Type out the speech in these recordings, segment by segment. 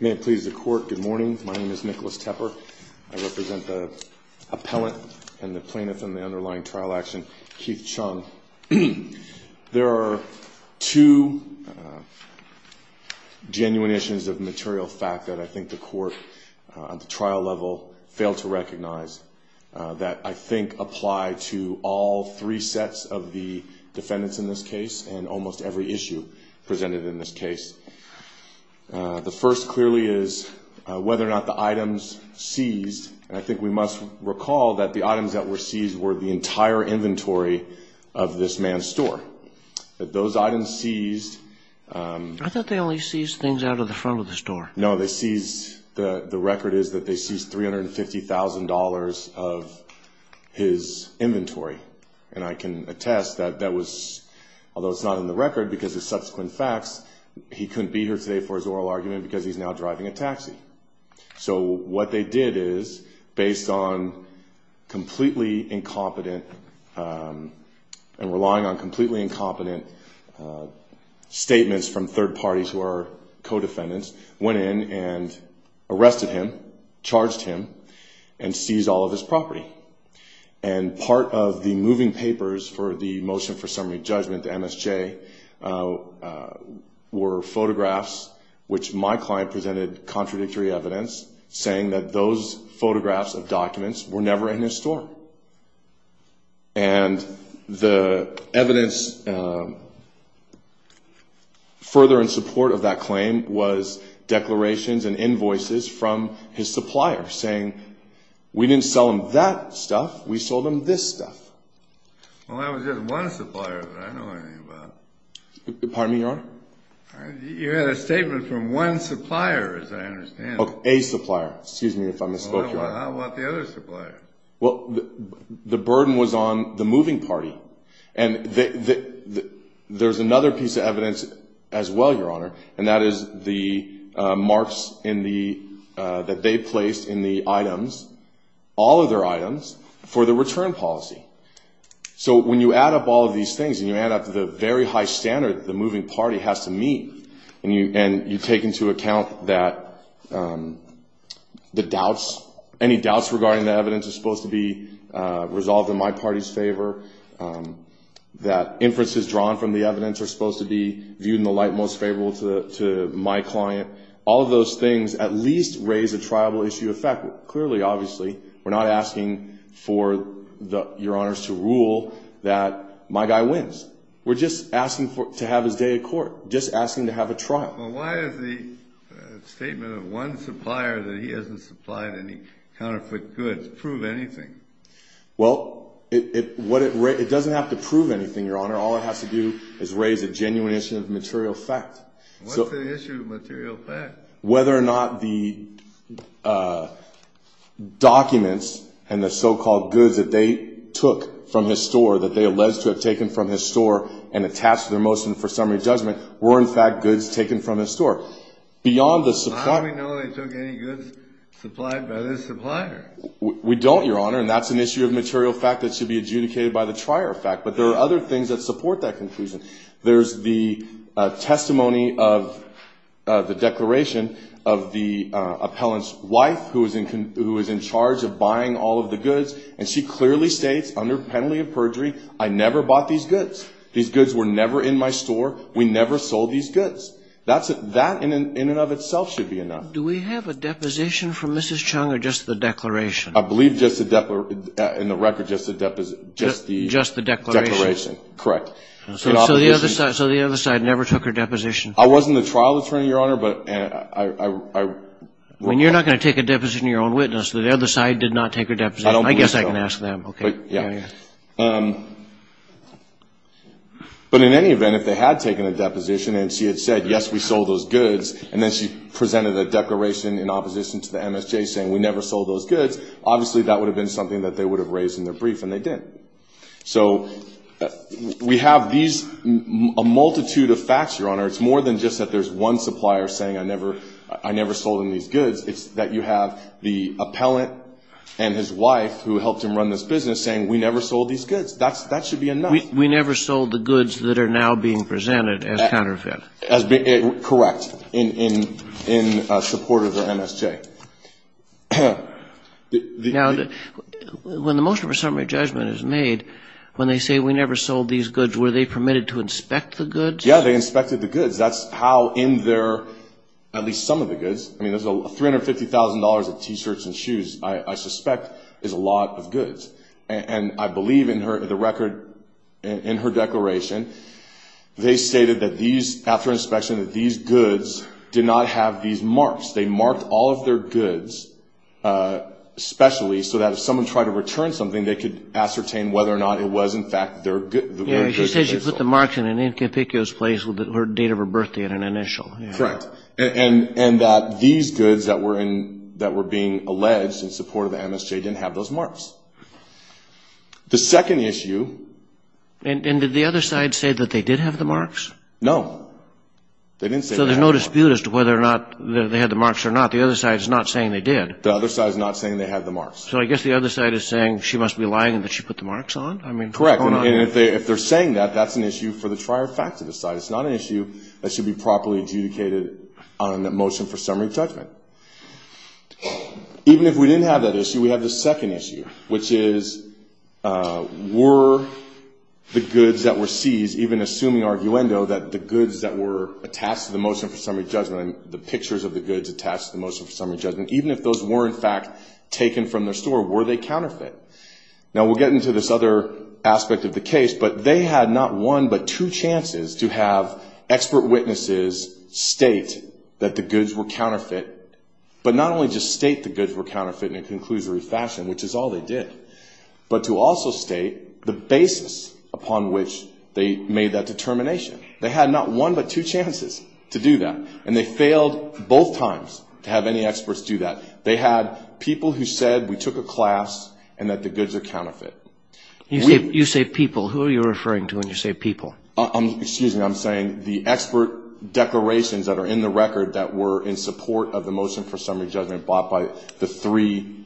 May it please the court, good morning. My name is Nicholas Tepper. I represent the appellant and the plaintiff in the underlying trial action, Keith Chung. There are two genuine issues of material fact that I think the court at the trial level failed to recognize that I think apply to all three sets of the defendants in this case and almost every issue presented in this case. The first clearly is whether or not the items seized. I think we must recall that the items that were seized were the entire inventory of this man's store. That those items seized. I thought they only seized things out of the front of the store. No they seized, the the record is that they seized $350,000 of his inventory and I can attest that that was, although it's not in the record because it's now driving a taxi. So what they did is based on completely incompetent and relying on completely incompetent statements from third parties who are co-defendants, went in and arrested him, charged him and seized all of his property. And part of the moving papers for the motion for summary judgment to evidence saying that those photographs of documents were never in his store. And the evidence further in support of that claim was declarations and invoices from his supplier saying we didn't sell him that stuff, we sold him this stuff. Well that was just one supplier. Pardon me your honor? You had a statement from one supplier as I understand it. A supplier, excuse me if I misspoke your honor. How about the other supplier? Well the burden was on the moving party and there's another piece of evidence as well your honor and that is the marks in the that they placed in the So when you add up all these things and you add up the very high standard the moving party has to meet and you and you take into account that the doubts, any doubts regarding the evidence is supposed to be resolved in my party's favor, that inferences drawn from the evidence are supposed to be viewed in the light most favorable to my client, all those things at least raise a rule that my guy wins. We're just asking for to have his day at court, just asking to have a trial. Why is the statement of one supplier that he hasn't supplied any counterfeit goods prove anything? Well it doesn't have to prove anything your honor, all it has to do is raise a genuine issue of material fact. What's the issue of material fact? Whether or not the documents and the so-called goods that they took from his store that they alleged to have taken from his store and attached to their motion for summary judgment were in fact goods taken from his store. Beyond the supply... How do we know they took any goods supplied by this supplier? We don't your honor and that's an issue of material fact that should be adjudicated by the trier fact but there are other things that support that conclusion. There's the testimony of the declaration of the appellant's wife who was in charge of buying all of the goods. She clearly states under penalty of perjury I never bought these goods. These goods were never in my store. We never sold these goods. That in and of itself should be enough. Do we have a deposition from Mrs. Chung or just the declaration? I believe just the declaration. Correct. So the other side never took her deposition? I wasn't the trial attorney your honor. When you're not going to take a deposition of your own witness, the other side did not take her deposition. I guess I can ask them. But in any event if they had taken a deposition and she had said yes we sold those goods and then she presented a declaration in opposition to the MSJ saying we never sold those goods, obviously that would have been something that they would have raised in their brief and they didn't. So we have these a multitude of facts your honor. It's more than just that there's one supplier saying I never sold them these goods. It's that you have the appellant and his wife who helped him run this business saying we never sold these goods. That should be enough. We never sold the goods that are now being presented as counterfeit. Correct. In support of the MSJ. Now when the motion for summary judgment is made, when they say we never sold these goods, were they permitted to inspect the goods? Yeah, they inspected the goods. That's how in their, at least some of the goods, I mean there's $350,000 of T-shirts and shoes I suspect is a lot of goods. And I believe in her, the record in her declaration they stated that these, after inspection, that these goods did not have these marks. They marked all of their goods specially so that if someone tried to return something they could ascertain whether or not it was in fact their goods. Yeah, she said she put the marks in an incompetuous place with the date of her birthday at an initial. Correct. And that these goods that were in, that were being alleged in support of the MSJ didn't have those marks. The second issue... And did the other side say that they did have the marks? No. They didn't say they had the marks. So there's no dispute as to whether or not they had the marks or not. The other side is not saying they did. The other side is not saying they had the marks. So I guess the other side is saying she must be lying and that she put the marks on? I mean... And if they're saying that, that's an issue for the trier fact to decide. It's not an issue that should be properly adjudicated on a motion for summary judgment. Even if we didn't have that issue, we have this second issue, which is were the goods that were seized, even assuming arguendo, that the goods that were attached to the motion for summary judgment, the pictures of the goods attached to the motion for summary judgment, even if those were in fact taken from their store, were they counterfeit? Now, we'll get into this other aspect of the case, but they had not one but two chances to have expert witnesses state that the goods were counterfeit, but not only just state the goods were counterfeit in a conclusory fashion, which is all they did, but to also state the basis upon which they made that determination. They had not one but two chances to do that. And they failed both times to have any experts do that. They had people who said we took a class and that the goods are counterfeit. You say people. Who are you referring to when you say people? Excuse me. I'm saying the expert declarations that are in the record that were in support of the motion for summary judgment brought by the three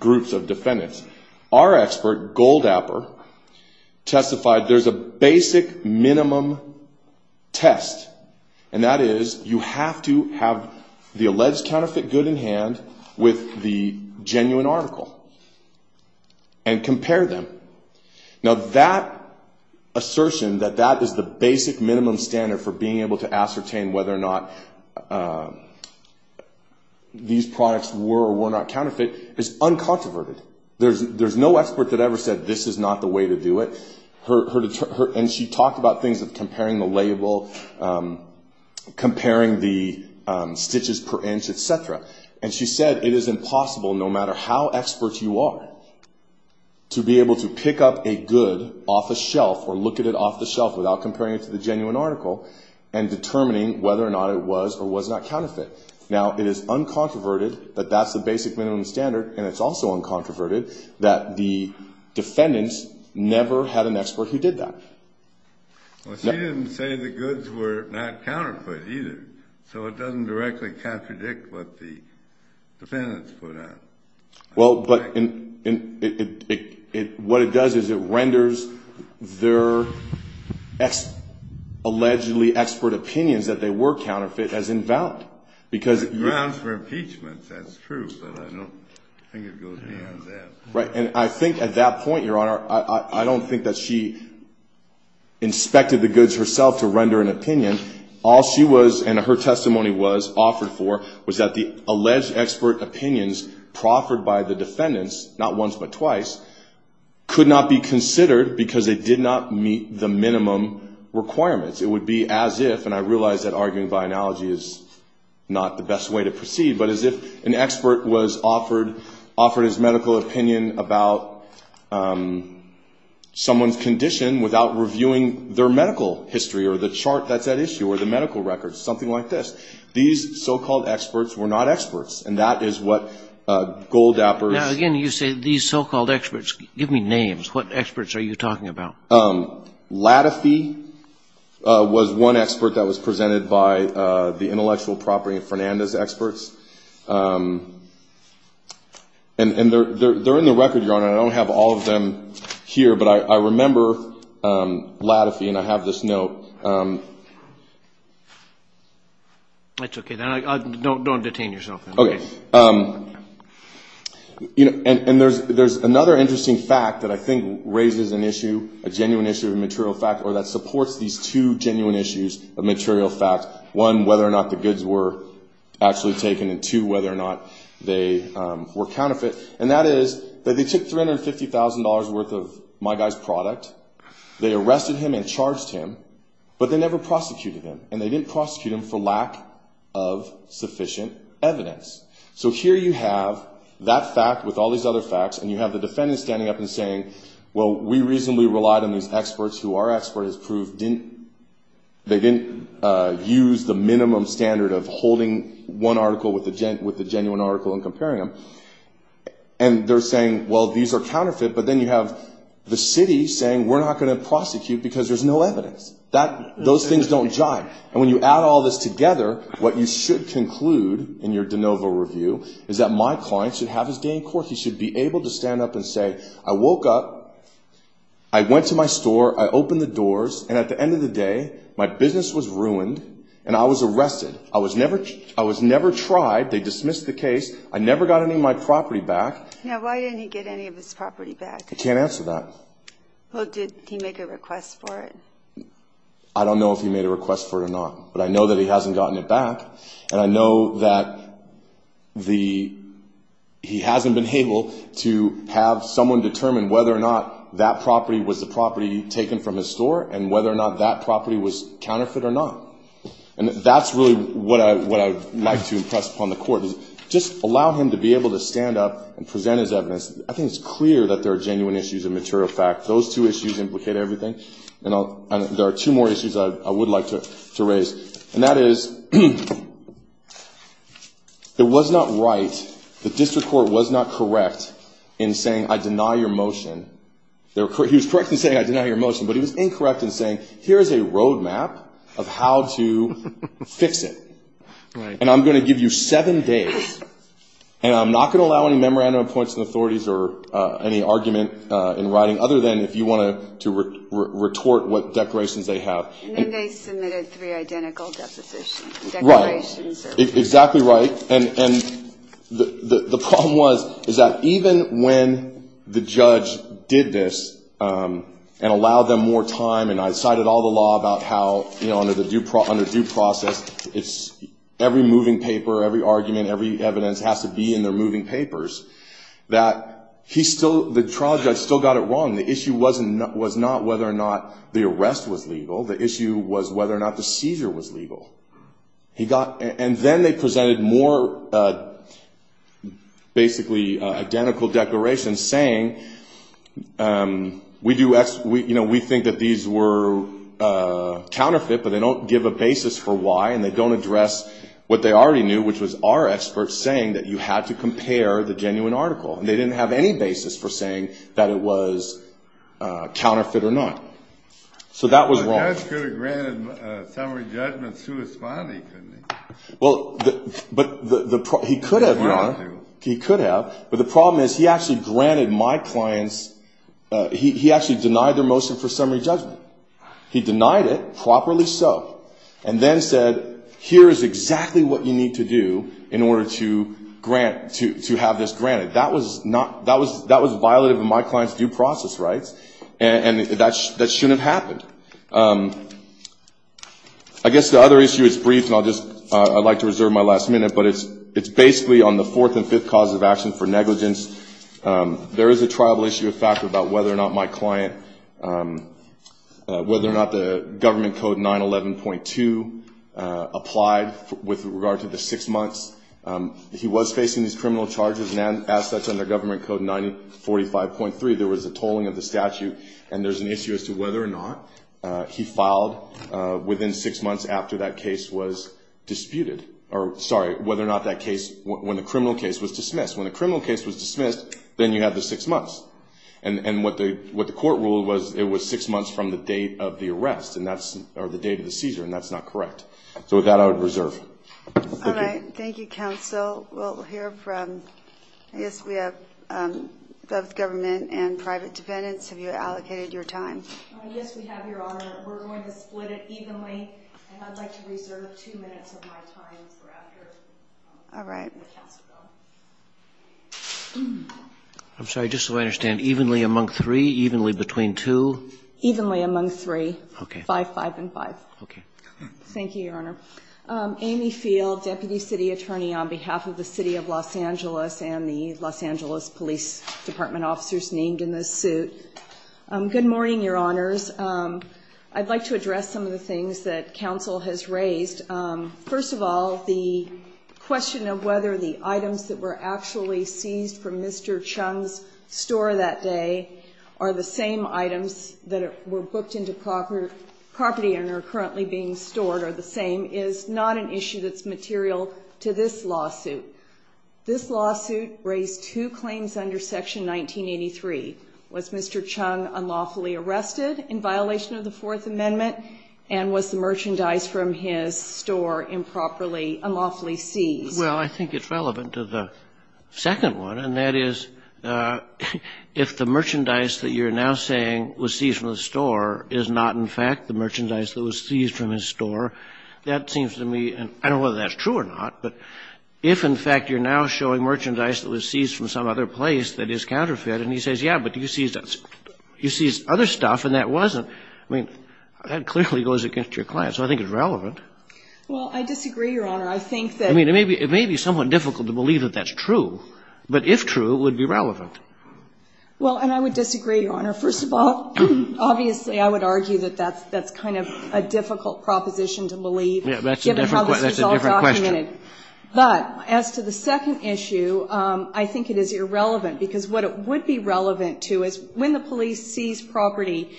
groups of defendants. Our expert, Goldapper, testified there's a basic minimum test, and that is you have to have the alleged counterfeit good in hand with the genuine article and compare them. Now, that assertion that that is the basic minimum standard for being able to ascertain whether or not these products were or were not counterfeit is uncontroverted. There's no expert that ever said this is not the way to do it. And she talked about things of comparing the label, comparing the stitches per inch, et cetera. And she said it is impossible, no matter how expert you are, to be able to pick up a good off a shelf or look at it off the shelf without comparing it to the genuine article and determining whether or not it was or was not counterfeit. Now, it is uncontroverted that that's the basic minimum standard, and it's also uncontroverted that the defendants never had an expert who did that. Well, she didn't say the goods were not counterfeit either, so it doesn't directly contradict what the defendants put out. Well, but what it does is it renders their allegedly expert opinions that they were counterfeit as invalid. Because grounds for impeachment, that's true, but I don't think it goes beyond that. Right. And I think at that point, Your Honor, I don't think that she inspected the goods herself to render an opinion. All she was and her testimony was offered for was that the alleged expert opinions proffered by the defendants, not once but twice, could not be considered because they did not meet the minimum requirements. It would be as if, and I realize that arguing by analogy is not the best way to proceed, but as if an expert was offered his medical opinion about someone's condition without reviewing their medical history or the chart that's at issue or the medical records, something like this. These so-called experts were not experts, and that is what Goldapper's... Now, again, you say these so-called experts. Give me names. What experts are you talking about? Latifee was one expert that was presented by the intellectual property of Fernandez experts. And they're in the record, Your Honor. I don't have all of them here, but I remember Latifee, and I have this note. That's okay, then. Don't detain yourself. Okay. And there's another interesting fact that I think raises an issue, a genuine issue of material fact or that supports these two genuine issues of material fact. One, whether or not the goods were actually taken, and two, whether or not they were counterfeit. And that is that they took $350,000 worth of my guy's product. They arrested him and charged him, but they never prosecuted him, and they didn't prosecute him for lack of sufficient evidence. So here you have that fact with all these other facts, and you have the defendant standing up and saying, well, we reasonably relied on these experts who our expert has proved didn't use the minimum standard of holding one article with a genuine article and comparing them. And they're saying, well, these are counterfeit, but then you have the city saying we're not going to prosecute because there's no evidence. Those things don't jive. And when you add all this together, what you should conclude in your de novo review is that my client should have his gain court. He should be able to stand up and say, I woke up, I went to my store, I opened the doors, and at the end of the day, my business was ruined and I was arrested. I was never tried. They dismissed the case. I never got any of my property back. Now, why didn't he get any of his property back? I can't answer that. Well, did he make a request for it? I don't know if he made a request for it or not. But I know that he hasn't gotten it back, and I know that he hasn't been able to have someone determine whether or not that property was the property taken from his store, and whether or not that property was counterfeit or not. And that's really what I'd like to impress upon the court, is just allow him to be able to stand up and present his evidence. I think it's clear that there are genuine issues and material facts. Those two issues implicate everything. And there are two more issues I would like to raise. And that is, it was not right, the district court was not correct in saying, I deny your motion. He was correct in saying, I deny your motion. But he was incorrect in saying, here is a roadmap of how to fix it. And I'm going to give you seven days. And I'm not going to allow any memorandum of points from the authorities or any argument in writing, other than if you want to retort what declarations they have. And then they submitted three identical depositions, declarations. Right. Exactly right. And the problem was, is that even when the judge did this and allowed them more time, and I cited all the law about how under due process, every moving paper, every argument, every evidence has to be in their moving papers, that the trial judge still got it wrong. The issue was not whether or not the arrest was legal. The issue was whether or not the seizure was legal. And then they presented more basically identical declarations saying, we think that these were counterfeit, but they don't give a basis for why, and they don't address what they already knew, which was our experts saying that you had to compare the genuine article. And they didn't have any basis for saying that it was counterfeit or not. So that was wrong. Well, the judge could have granted summary judgment to his body, couldn't he? Well, but he could have, Your Honor. He could have. But the problem is he actually granted my clients, he actually denied their motion for summary judgment. He denied it, properly so, and then said, here is exactly what you need to do in order to grant, to have this granted. That was not, that was violative of my client's due process rights, and that shouldn't have happened. I guess the other issue is brief, and I'll just, I'd like to reserve my last minute, but it's basically on the fourth and fifth causes of action for negligence. There is a triable issue of factor about whether or not my client, whether or not the Government Code 911.2 applied with regard to the six months. He was facing these criminal charges, and as such, under Government Code 945.3, there was a tolling of the statute, and there's an issue as to whether or not he filed within six months after that case was disputed, or sorry, whether or not that case, when the criminal case was dismissed. When the criminal case was dismissed, then you have the six months. And what the court ruled was it was six months from the date of the arrest, or the date of the seizure, and that's not correct. So with that, I would reserve. All right. Thank you, counsel. We'll hear from, yes, we have both government and private defendants. Have you allocated your time? Yes, we have, Your Honor. We're going to split it evenly, and I'd like to reserve two minutes of my time for after. All right. I'm sorry, just so I understand, evenly among three, evenly between two? Evenly among three. Okay. Five, five, and five. Okay. Thank you, Your Honor. Amy Field, Deputy City Attorney on behalf of the City of Los Angeles and the Los Angeles Police Department officers named in this suit. Good morning, Your Honors. I'd like to address some of the things that counsel has raised. First of all, the question of whether the items that were actually seized from Mr. Chung's store that day are the same items that were booked into property and are currently being stored are the same is not an issue that's material to this lawsuit. This lawsuit raised two claims under Section 1983. Was Mr. Chung unlawfully arrested in violation of the Fourth Amendment, and was the merchandise from his store improperly, unlawfully seized? Well, I think it's relevant to the second one, and that is if the merchandise that you're now saying was seized from the store is not, in fact, the merchandise that was seized from his store, that seems to me, and I don't know whether that's true or not, but if, in fact, you're now showing merchandise that was seized from some other place that is counterfeit, and he says, yeah, but you seized other stuff, and that wasn't, I mean, that clearly goes against your client. So I think it's relevant. Well, I disagree, Your Honor. I think that ---- I mean, it may be somewhat difficult to believe that that's true. But if true, it would be relevant. Well, and I would disagree, Your Honor. First of all, obviously, I would argue that that's kind of a difficult proposition to believe, given how this is all documented. Yeah, that's a different question. But as to the second issue, I think it is irrelevant, because what it would be relevant to is when the police seize property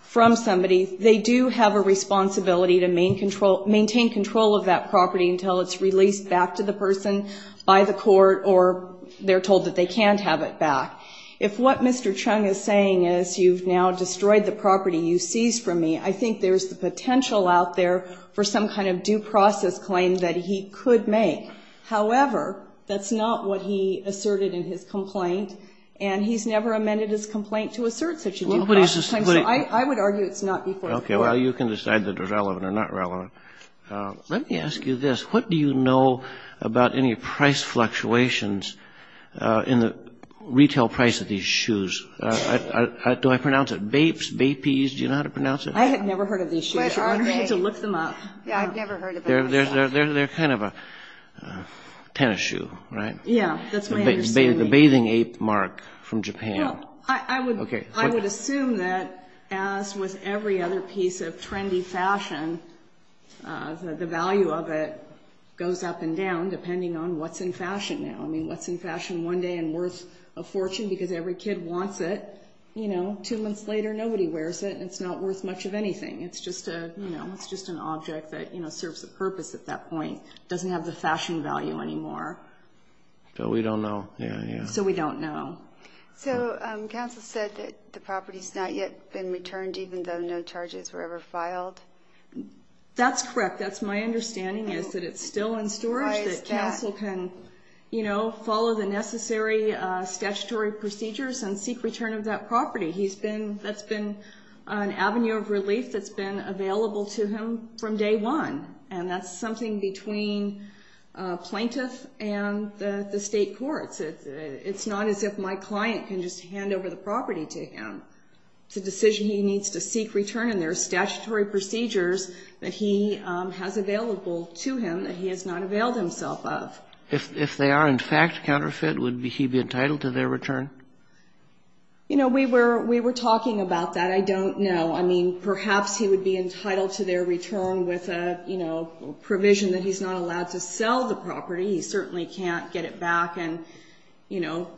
from somebody, they do have a responsibility to maintain control of that property until it's released back to the person by the court, or they're told that they can't have it back. If what Mr. Chung is saying is you've now destroyed the property you seized from me, I think there's the potential out there for some kind of due process claim that he could make. However, that's not what he asserted in his complaint, and he's never amended his complaint to assert such a due process claim. So I would argue it's not before the court. Okay, well, you can decide that they're relevant or not relevant. Let me ask you this. What do you know about any price fluctuations in the retail price of these shoes? Do I pronounce it bapes, bapees? Do you know how to pronounce it? I have never heard of these shoes. You're going to need to look them up. Yeah, I've never heard of them. They're kind of a tennis shoe, right? Yeah, that's my understanding. The bathing ape mark from Japan. I would assume that as with every other piece of trendy fashion, the value of it goes up and down depending on what's in fashion now. I mean, what's in fashion one day and worth a fortune, because every kid wants it, you know, two months later nobody wears it, and it's not worth much of anything. It's just an object that serves a purpose at that point. It doesn't have the fashion value anymore. So we don't know. Yeah, yeah. So we don't know. So counsel said that the property's not yet been returned even though no charges were ever filed? That's correct. That's my understanding is that it's still in storage. Why is that? That counsel can, you know, follow the necessary statutory procedures and seek return of that property. That's been an avenue of relief that's been available to him from day one, and that's something between plaintiff and the state courts. It's not as if my client can just hand over the property to him. It's a decision he needs to seek return, and there are statutory procedures that he has available to him that he has not availed himself of. If they are in fact counterfeit, would he be entitled to their return? You know, we were talking about that. I don't know. I mean, perhaps he would be entitled to their return with a, you know, provision that he's not allowed to sell the property. He certainly can't get it back and, you know,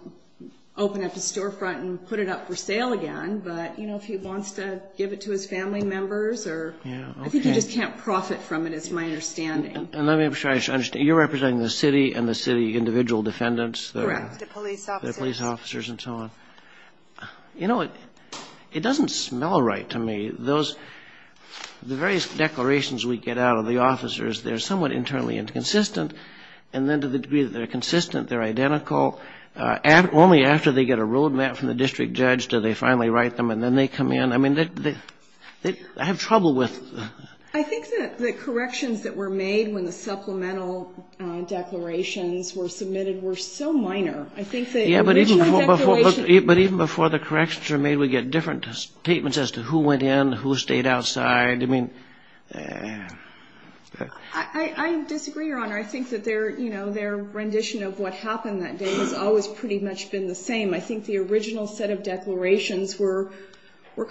open up a storefront and put it up for sale again. But, you know, if he wants to give it to his family members or you know, I think he just can't profit from it is my understanding. And let me make sure I understand. You're representing the city and the city individual defendants? Correct, the police officers. The police officers and so on. You know, it doesn't smell right to me. Those, the various declarations we get out of the officers, they're somewhat internally inconsistent. And then to the degree that they're consistent, they're identical. Only after they get a road map from the district judge do they finally write them and then they come in. I mean, they have trouble with. I think that the corrections that were made when the supplemental declarations were submitted were so minor. I think the original declaration. Yeah, but even before the corrections were made, we get different statements as to who went in, who stayed outside. I mean. I disagree, Your Honor. I think that their, you know, their rendition of what happened that day has always pretty much been the same. I think the original set of declarations were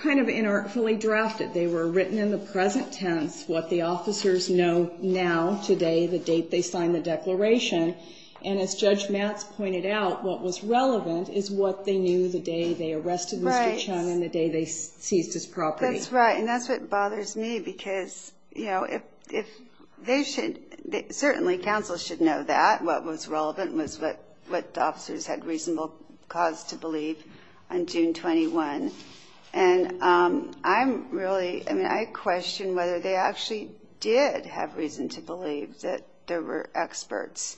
kind of inartfully drafted. They were written in the present tense, what the officers know now, today, the date they signed the declaration. And as Judge Matz pointed out, what was relevant is what they knew the day they arrested Mr. Chung and the day they seized his property. That's right, and that's what bothers me because, you know, if they should, certainly counsel should know that. What was relevant was what the officers had reasonable cause to believe on June 21. And I'm really, I mean, I question whether they actually did have reason to believe that there were experts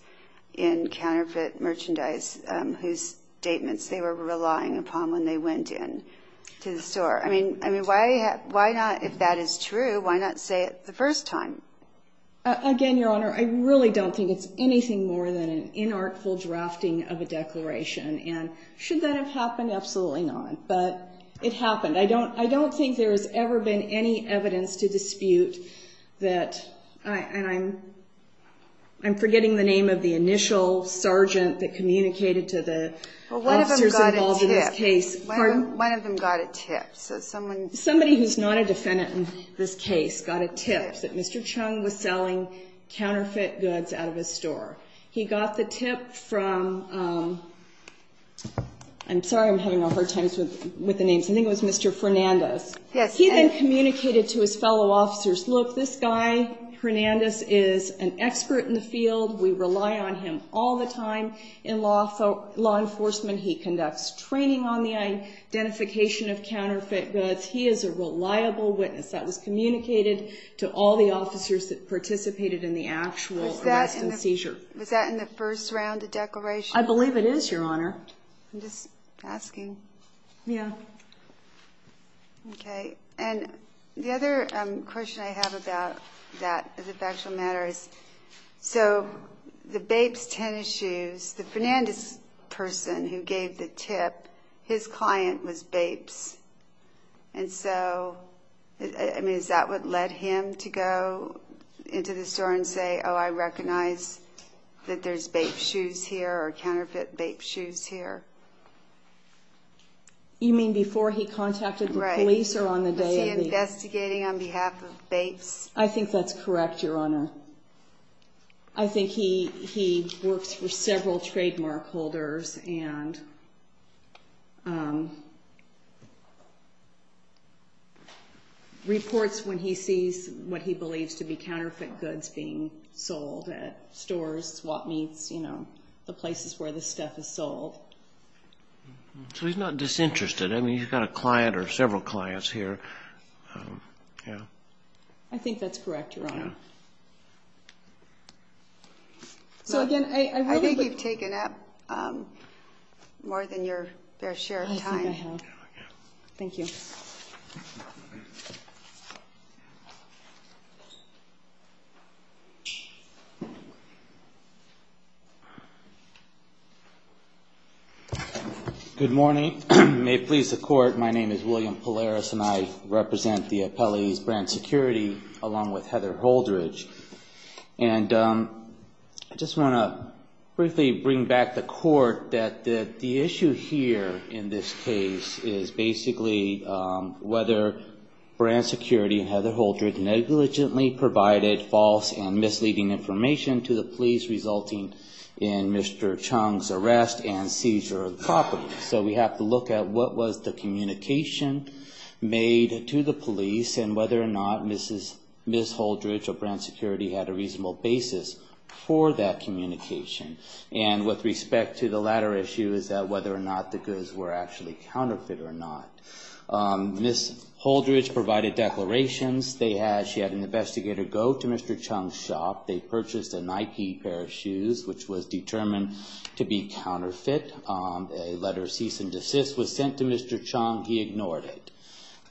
in counterfeit merchandise whose statements they were relying upon when they went in to the store. I mean, why not, if that is true, why not say it the first time? Again, Your Honor, I really don't think it's anything more than an inartful drafting of a declaration. And should that have happened? Absolutely not. But it happened. I don't think there has ever been any evidence to dispute that, and I'm forgetting the name of the initial sergeant that communicated to the officers involved in this case. One of them got a tip. Somebody who's not a defendant in this case got a tip that Mr. Chung was selling counterfeit goods out of his store. He got the tip from, I'm sorry, I'm having a hard time with the names. I think it was Mr. Fernandez. He then communicated to his fellow officers, look, this guy, Fernandez, is an expert in the field. We rely on him all the time in law enforcement. He conducts training on the identification of counterfeit goods. He is a reliable witness. That was communicated to all the officers that participated in the actual arrest and seizure. Was that in the first round of declaration? I believe it is, Your Honor. I'm just asking. Yeah. Okay. And the other question I have about that factual matter is, so the Bapes tennis shoes, the Fernandez person who gave the tip, his client was Bapes. And so, I mean, is that what led him to go into the store and say, oh, I recognize that there's Bapes shoes here or counterfeit Bapes shoes here? You mean before he contacted the police or on the day of the... Was he investigating on behalf of Bapes? I think that's correct, Your Honor. I think he works for several trademark holders and reports when he sees what he believes to be counterfeit goods being sold at stores, swap meets, you know, the places where this stuff is sold. So he's not disinterested. I mean, he's got a client or several clients here. Yeah. I think that's correct, Your Honor. Yeah. So again, I really... I think you've taken up more than your fair share of time. I think I have. Thank you. Good morning. May it please the Court, my name is William Polaris and I represent the appellees, Brand Security, along with Heather Holdridge. And I just want to briefly bring back the Court that the issue here in this case is basically whether Brand Security and Heather Holdridge negligently provided false and misleading information to the police resulting in Mr. Chung's arrest and seizure of the property. So we have to look at what was the communication made to the police and whether or not Ms. Holdridge or Brand Security had a reasonable basis for that communication. And with respect to the latter issue is whether or not the goods were actually counterfeit or not. Ms. Holdridge provided declarations. She had an investigator go to Mr. Chung's shop. They purchased a Nike pair of shoes, which was determined to be counterfeit. A letter of cease and desist was sent to Mr. Chung. He ignored it.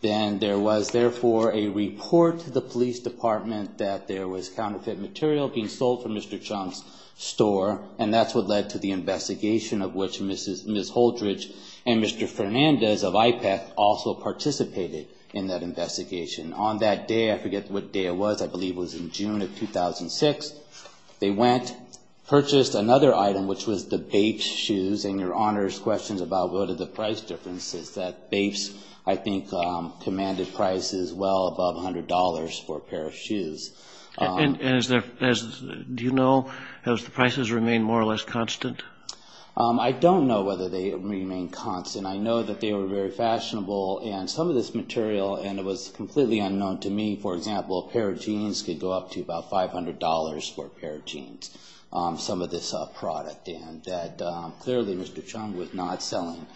Then there was therefore a report to the police department that there was counterfeit material being sold from Mr. Chung's store. And that's what led to the investigation of which Ms. Holdridge and Mr. Fernandez of IPEC also participated in that investigation. On that day, I forget what day it was, I believe it was in June of 2006, they went, purchased another item, which was the Bapes shoes. And Your Honor's questions about what are the price differences, that Bapes I think commanded prices well above $100 for a pair of shoes. And do you know, have the prices remained more or less constant? I don't know whether they remain constant. I know that they were very fashionable and some of this material, and it was completely unknown to me, for example, a pair of jeans could go up to about $500 for a pair of jeans, some of this product. And that clearly Mr. Chung was not selling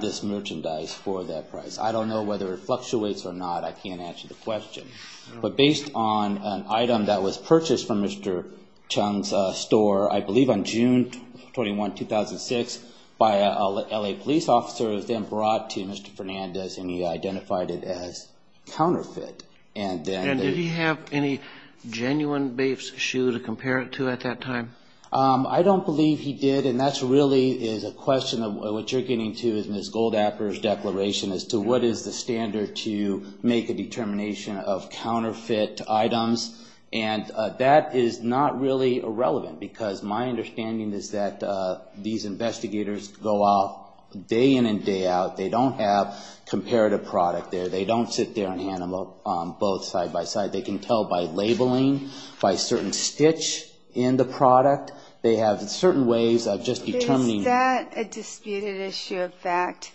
this merchandise for that price. I don't know whether it fluctuates or not. I can't answer the question. But based on an item that was purchased from Mr. Chung's store, I believe on June 21, 2006, by an L.A. police officer, it was then brought to Mr. Fernandez and he identified it as counterfeit. And did he have any genuine Bapes shoe to compare it to at that time? I don't believe he did. And that really is a question of what you're getting to in Ms. Goldapher's declaration as to what is the standard to make a determination of counterfeit items. And that is not really irrelevant because my understanding is that these investigators go off day in and day out. They don't have comparative product there. They don't sit there and hand them both side by side. They can tell by labeling, by certain stitch in the product. They have certain ways of just determining. Is that a disputed issue of fact?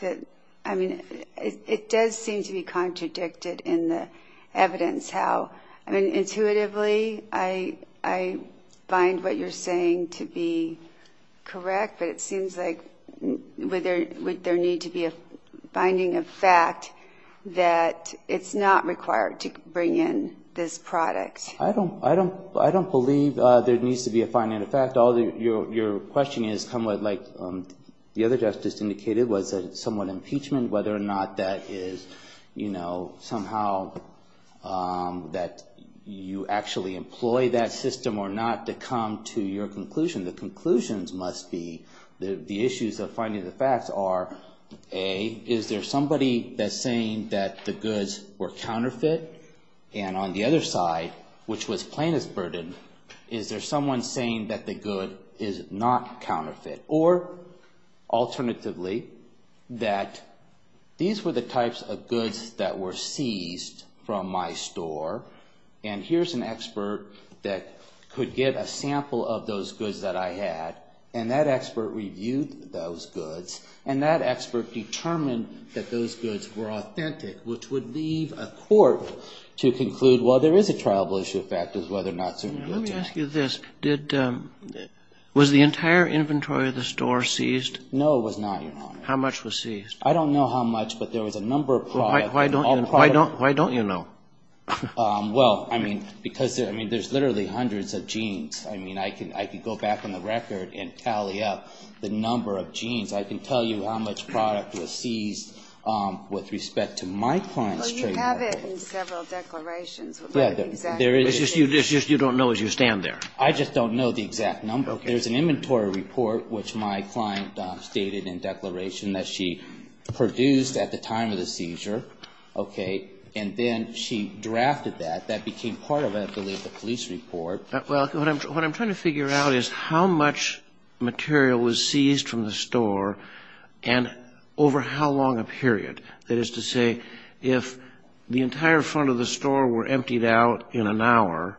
I mean, it does seem to be contradicted in the evidence how. I mean, intuitively, I find what you're saying to be correct. But it seems like would there need to be a finding of fact that it's not required to bring in this product? I don't believe there needs to be a finding of fact. Your question is somewhat like the other justice indicated, was it somewhat impeachment, whether or not that is, you know, somehow that you actually employ that system or not to come to your conclusion. The conclusions must be the issues of finding the facts are, A, is there somebody that's saying that the goods were counterfeit? And on the other side, which was plaintiff's burden, is there someone saying that the good is not counterfeit? Or, alternatively, that these were the types of goods that were seized from my store, and here's an expert that could give a sample of those goods that I had, and that expert reviewed those goods, and that expert determined that those goods were authentic, which would leave a court to conclude, well, there is a trialable issue of fact as to whether or not certain goods are. Let me ask you this. Was the entire inventory of the store seized? No, it was not, Your Honor. How much was seized? I don't know how much, but there was a number of products. Why don't you know? Well, I mean, because there's literally hundreds of jeans. I mean, I could go back on the record and tally up the number of jeans. I can tell you how much product was seized with respect to my client's trademark. Well, you have it in several declarations. What is the exact number? It's just you don't know as you stand there. I just don't know the exact number. There's an inventory report which my client stated in declaration that she produced at the time of the seizure, okay? And then she drafted that. That became part of, I believe, the police report. Well, what I'm trying to figure out is how much material was seized from the store and over how long a period. That is to say, if the entire front of the store were emptied out in an hour,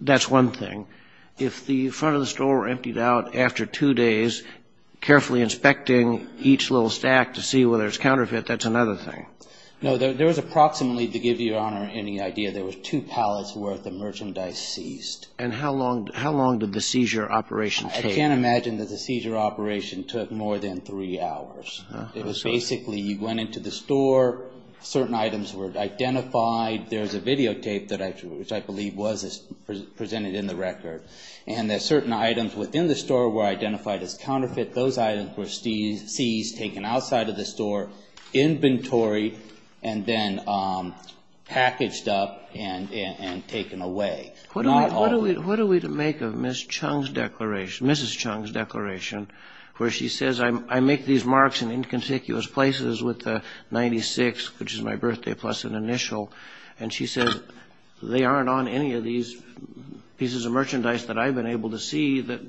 that's one thing. If the front of the store were emptied out after two days, carefully inspecting each little stack to see whether it's counterfeit, that's another thing. No, there was approximately, to give you, Your Honor, any idea, there was two pallets worth of merchandise seized. And how long did the seizure operation take? I can't imagine that the seizure operation took more than three hours. It was basically you went into the store, certain items were identified. There was a videotape, which I believe was presented in the record, and that certain items within the store were identified as counterfeit. Those items were seized, taken outside of the store, inventory, and then packaged up and taken away. What are we to make of Ms. Chung's declaration, Mrs. Chung's declaration, where she says, I make these marks in inconspicuous places with the 96, which is my birthday plus an initial, and she says, they aren't on any of these pieces of merchandise that I've been able to see, that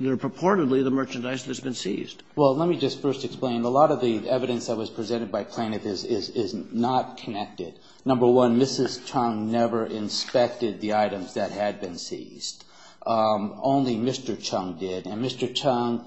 they're purportedly the merchandise that's been seized. Well, let me just first explain. A lot of the evidence that was presented by plaintiff is not connected. Number one, Mrs. Chung never inspected the items that had been seized. Only Mr. Chung did. And Mr. Chung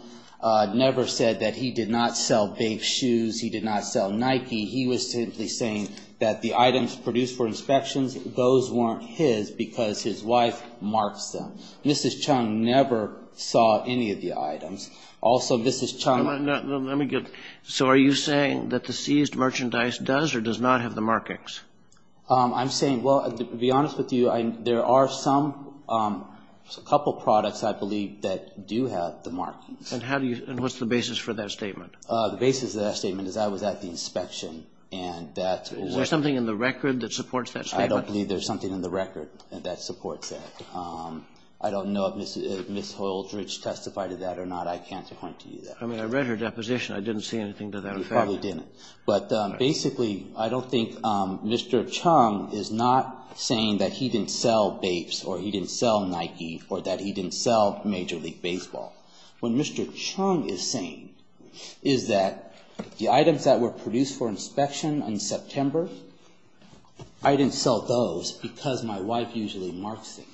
never said that he did not sell big shoes, he did not sell Nike. He was simply saying that the items produced for inspections, those weren't his because his wife marks them. Mrs. Chung never saw any of the items. Also, Mrs. Chung Let me get, so are you saying that the seized merchandise does or does not have the markings? I'm saying, well, to be honest with you, there are some, a couple products I believe that do have the markings. And how do you, and what's the basis for that statement? The basis of that statement is I was at the inspection and that Is there something in the record that supports that statement? I don't believe there's something in the record that supports that. I don't know if Ms. Holdridge testified to that or not. I can't point to you that. I mean, I read her deposition. I didn't see anything to that effect. You probably didn't. But basically, I don't think Mr. Chung is not saying that he didn't sell Bapes or he didn't sell Nike or that he didn't sell Major League Baseball. What Mr. Chung is saying is that the items that were produced for inspection in September, I didn't sell those because my wife usually marks things.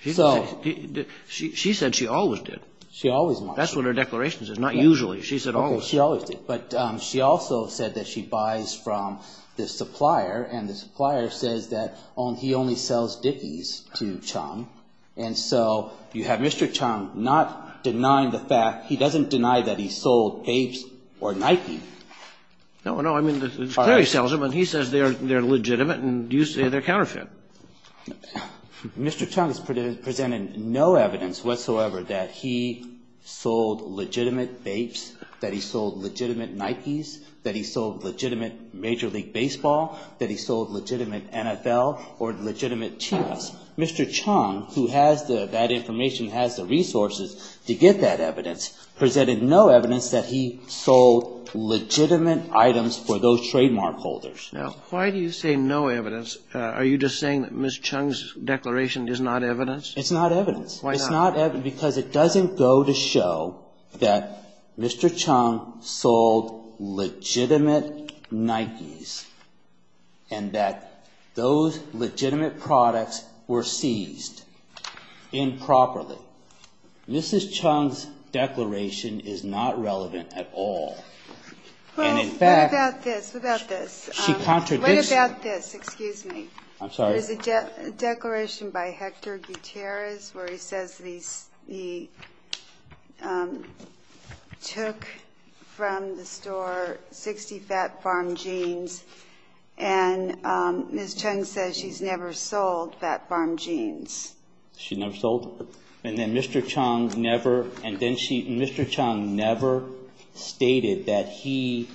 She said she always did. She always marks things. That's what her declaration says, not usually. She said always. She always did. But she also said that she buys from the supplier and the supplier says that he only sells Dickies to Chung. And so you have Mr. Chung not denying the fact, he doesn't deny that he sold Bapes or Nike. No, no. I mean, the supplier sells them and he says they're legitimate and you say they're counterfeit. Mr. Chung has presented no evidence whatsoever that he sold legitimate Bapes, that he sold legitimate Nikes, that he sold legitimate Major League Baseball, that he sold legitimate NFL or legitimate Chiefs. Mr. Chung, who has that information, has the resources to get that evidence, presented no evidence that he sold legitimate items for those trademark holders. Now, why do you say no evidence? Are you just saying that Ms. Chung's declaration is not evidence? It's not evidence. It's not evidence because it doesn't go to show that Mr. Chung sold legitimate Nikes and that those legitimate products were seized improperly. Ms. Chung's declaration is not relevant at all. Well, what about this? What about this? What about this? Excuse me. I'm sorry. There's a declaration by Hector Gutierrez where he says that he took from the store 60 Fat Farm jeans and Ms. Chung says she's never sold Fat Farm jeans. She never sold? And then Mr. Chung never, and then she, Mr. Chung never stated that he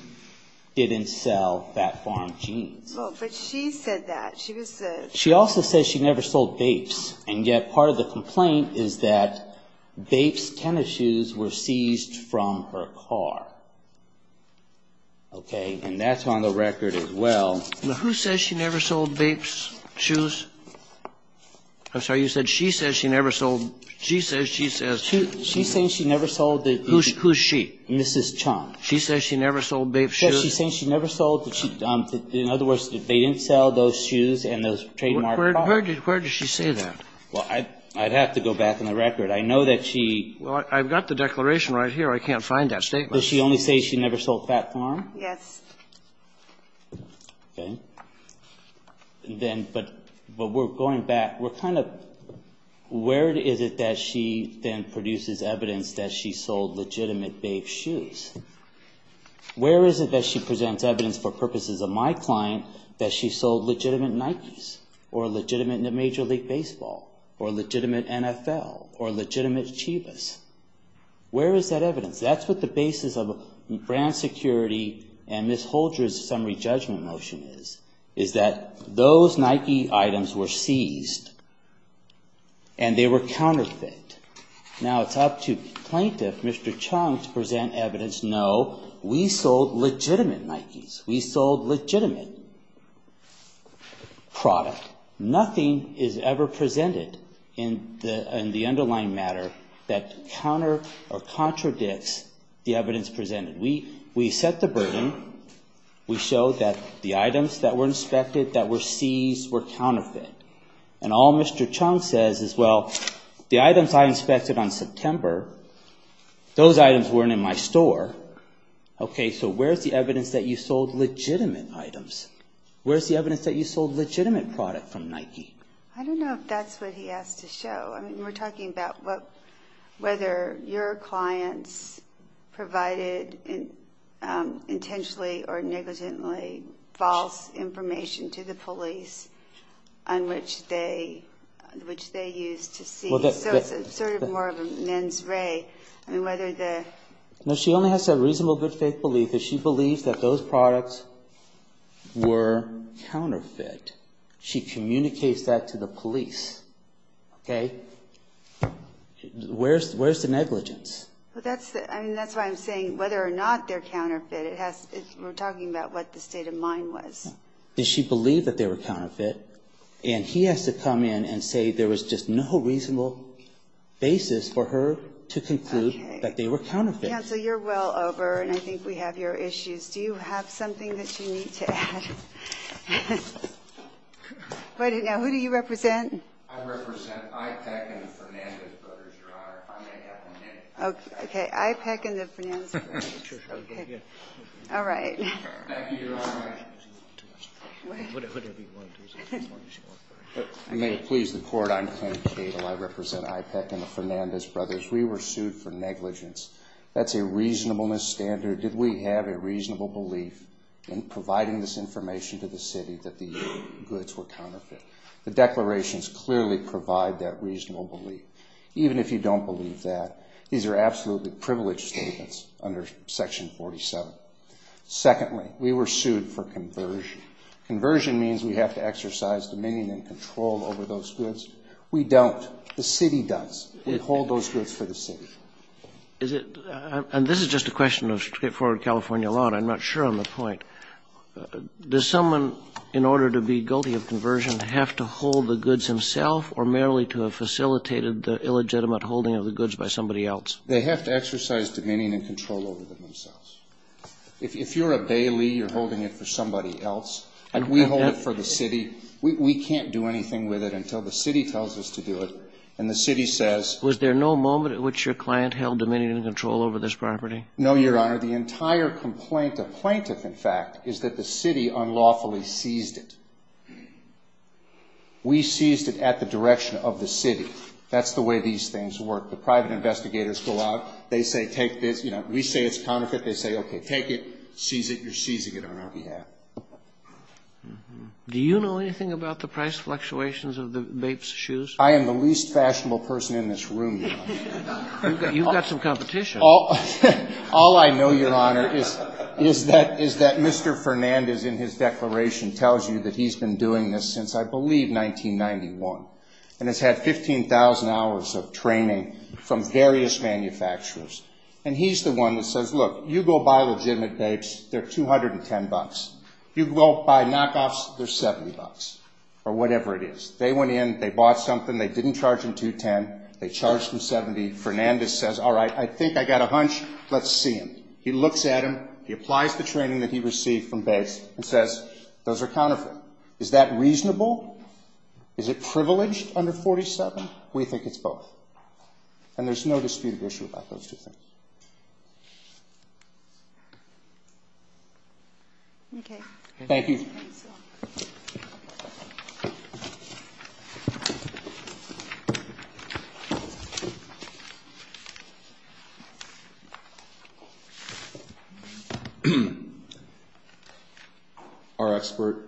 didn't sell Fat Farm jeans. Well, but she said that. She was the. She also says she never sold Vapes. And yet part of the complaint is that Vapes tennis shoes were seized from her car. Okay? And that's on the record as well. Now, who says she never sold Vapes shoes? I'm sorry. You said she says she never sold. She says she says. She's saying she never sold the. Who's she? Mrs. Chung. She says she never sold Vapes shoes? She's saying she never sold. In other words, they didn't sell those shoes and those trademarked. Where does she say that? Well, I'd have to go back in the record. I know that she. Well, I've got the declaration right here. I can't find that statement. Does she only say she never sold Fat Farm? Yes. Okay. Then, but we're going back. We're kind of. Where is it that she then produces evidence that she sold legitimate Vapes shoes? Where is it that she presents evidence for purposes of my client that she sold legitimate Nikes? Or legitimate Major League Baseball? Or legitimate NFL? Or legitimate Chivas? Where is that evidence? That's what the basis of brand security and Ms. Holdren's summary judgment motion is. Is that those Nike items were seized. And they were counterfeit. Now, it's up to plaintiff, Mr. Chung, to present evidence. No, we sold legitimate Nikes. We sold legitimate product. Nothing is ever presented in the underlying matter that counter or contradicts the evidence presented. We set the burden. We showed that the items that were inspected, that were seized, were counterfeit. And all Mr. Chung says is, well, the items I inspected on September, those items weren't in my store. Okay, so where's the evidence that you sold legitimate items? Where's the evidence that you sold legitimate product from Nike? I don't know if that's what he asked to show. I mean, we're talking about whether your clients provided intentionally or negligently false information to the police on which they used to seize. So it's sort of more of a mens re. No, she only has to have reasonable good faith belief if she believes that those products were counterfeit. She communicates that to the police. Okay? Where's the negligence? I mean, that's why I'm saying whether or not they're counterfeit. We're talking about what the state of mind was. Does she believe that they were counterfeit? And he has to come in and say there was just no reasonable basis for her to conclude that they were counterfeit. Okay. Counsel, you're well over, and I think we have your issues. Do you have something that you need to add? Now, who do you represent? I represent IPEC and the Fernandez brothers, Your Honor, if I may have one minute. Okay. IPEC and the Fernandez brothers. Okay. All right. Thank you, Your Honor. Whatever you want to do. May it please the Court, I'm Ken Cato. I represent IPEC and the Fernandez brothers. We were sued for negligence. That's a reasonableness standard. Did we have a reasonable belief in providing this information to the city that the goods were counterfeit? The declarations clearly provide that reasonable belief. Even if you don't believe that, these are absolutely privileged statements under Section 47. Secondly, we were sued for conversion. Conversion means we have to exercise dominion and control over those goods. We don't. The city does. We hold those goods for the city. And this is just a question of straightforward California law, and I'm not sure on the point. Does someone, in order to be guilty of conversion, have to hold the goods himself or merely to have facilitated the illegitimate holding of the goods by somebody else? They have to exercise dominion and control over themselves. If you're a Bailey, you're holding it for somebody else. We hold it for the city. We can't do anything with it until the city tells us to do it, and the city says. Was there no moment at which your client held dominion and control over this property? No, Your Honor. The entire complaint, a plaintiff, in fact, is that the city unlawfully seized it. We seized it at the direction of the city. That's the way these things work. The private investigators go out. They say take this. We say it's counterfeit. They say, okay, take it. Seize it. You're seizing it on our behalf. Do you know anything about the price fluctuations of the Bape's shoes? I am the least fashionable person in this room, Your Honor. You've got some competition. All I know, Your Honor, is that Mr. Fernandez, in his declaration, tells you that he's been doing this since, I believe, 1991 and has had 15,000 hours of training from various manufacturers, and he's the one that says, look, you go buy legitimate Bapes, they're $210. You go buy knockoffs, they're $70 or whatever it is. They went in, they bought something, they didn't charge them $210, they charged them $70. Fernandez says, all right, I think I got a hunch. Let's see him. He looks at him. He applies the training that he received from Bapes and says, those are counterfeit. Is that reasonable? Is it privileged under 47? We think it's both. And there's no disputed issue about those two things. Thank you. Thank you. Our expert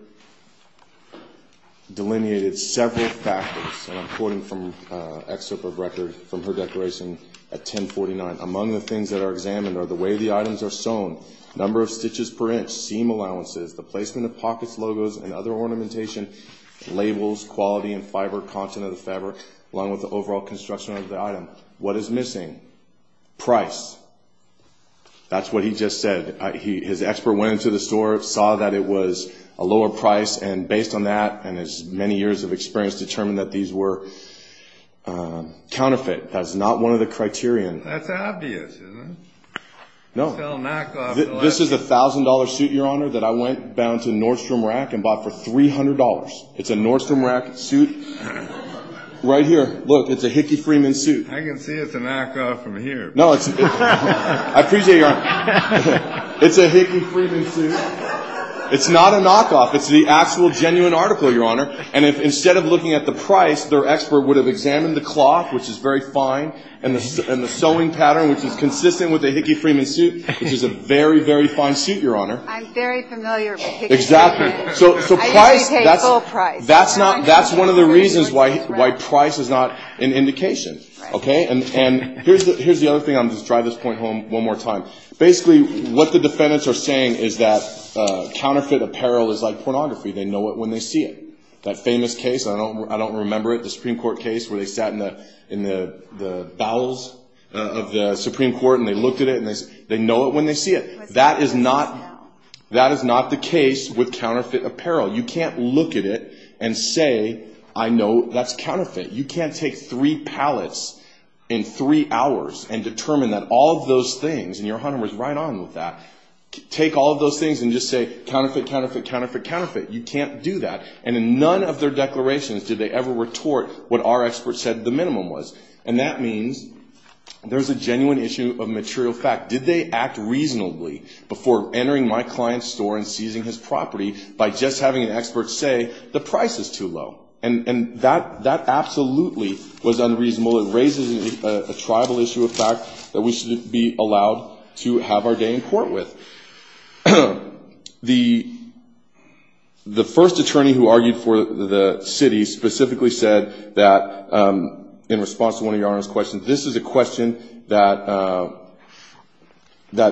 delineated several factors, and I'm quoting from an excerpt of record from her declaration at 1049. Among the things that are examined are the way the items are sewn, number of stitches per inch, seam allowances, the placement of pockets, logos, and other ornamentation, labels, quality, and fiber content of the fabric, along with the overall construction of the item. What is missing? Price. That's what he just said. His expert went into the store, saw that it was a lower price, and based on that and his many years of experience determined that these were counterfeit. That's not one of the criterion. That's obvious, isn't it? No. This is a $1,000 suit, Your Honor, that I went down to Nordstrom Rack and bought for $300. It's a Nordstrom Rack suit right here. Look, it's a Hickey Freeman suit. I can see it's a knockoff from here. No. I appreciate your honor. It's a Hickey Freeman suit. It's not a knockoff. It's the actual genuine article, Your Honor. And instead of looking at the price, their expert would have examined the cloth, which is very fine, and the sewing pattern, which is consistent with the Hickey Freeman suit, which is a very, very fine suit, Your Honor. I'm very familiar with Hickey Freeman. Exactly. I usually pay full price. That's one of the reasons why price is not an indication. And here's the other thing. I'm going to just drive this point home one more time. Basically, what the defendants are saying is that counterfeit apparel is like pornography. They know it when they see it. That famous case, I don't remember it, the Supreme Court case where they sat in the bowels of the Supreme Court and they looked at it, and they know it when they see it. That is not the case with counterfeit apparel. You can't look at it and say, I know that's counterfeit. You can't take three pallets in three hours and determine that all of those things, and Your Honor was right on with that, take all of those things and just say, counterfeit, counterfeit, counterfeit, counterfeit. You can't do that. And in none of their declarations did they ever retort what our expert said the minimum was. And that means there's a genuine issue of material fact. Did they act reasonably before entering my client's store and seizing his property by just having an expert say the price is too low? And that absolutely was unreasonable. It raises a tribal issue of fact that we should be allowed to have our day in court with. The first attorney who argued for the city specifically said that in response to one of Your Honor's questions, this is a question that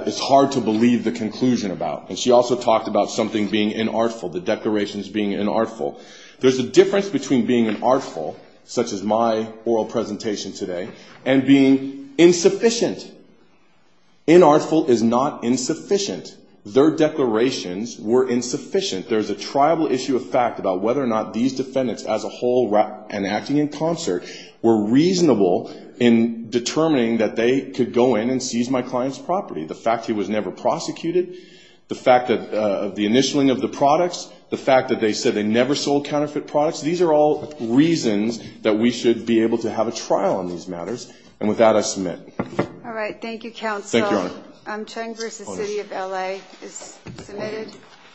is hard to believe the conclusion about. And she also talked about something being inartful, the declarations being inartful. There's a difference between being inartful, such as my oral presentation today, and being insufficient. Inartful is not insufficient. Their declarations were insufficient. There's a tribal issue of fact about whether or not these defendants as a whole, and acting in concert, were reasonable in determining that they could go in and seize my client's property. The fact he was never prosecuted, the fact that the initialing of the products, the fact that they said they never sold counterfeit products, these are all reasons that we should be able to have a trial on these matters. And with that, I submit. All right. Thank you, counsel. Thank you, Your Honor. Chung v. City of L.A. is submitted.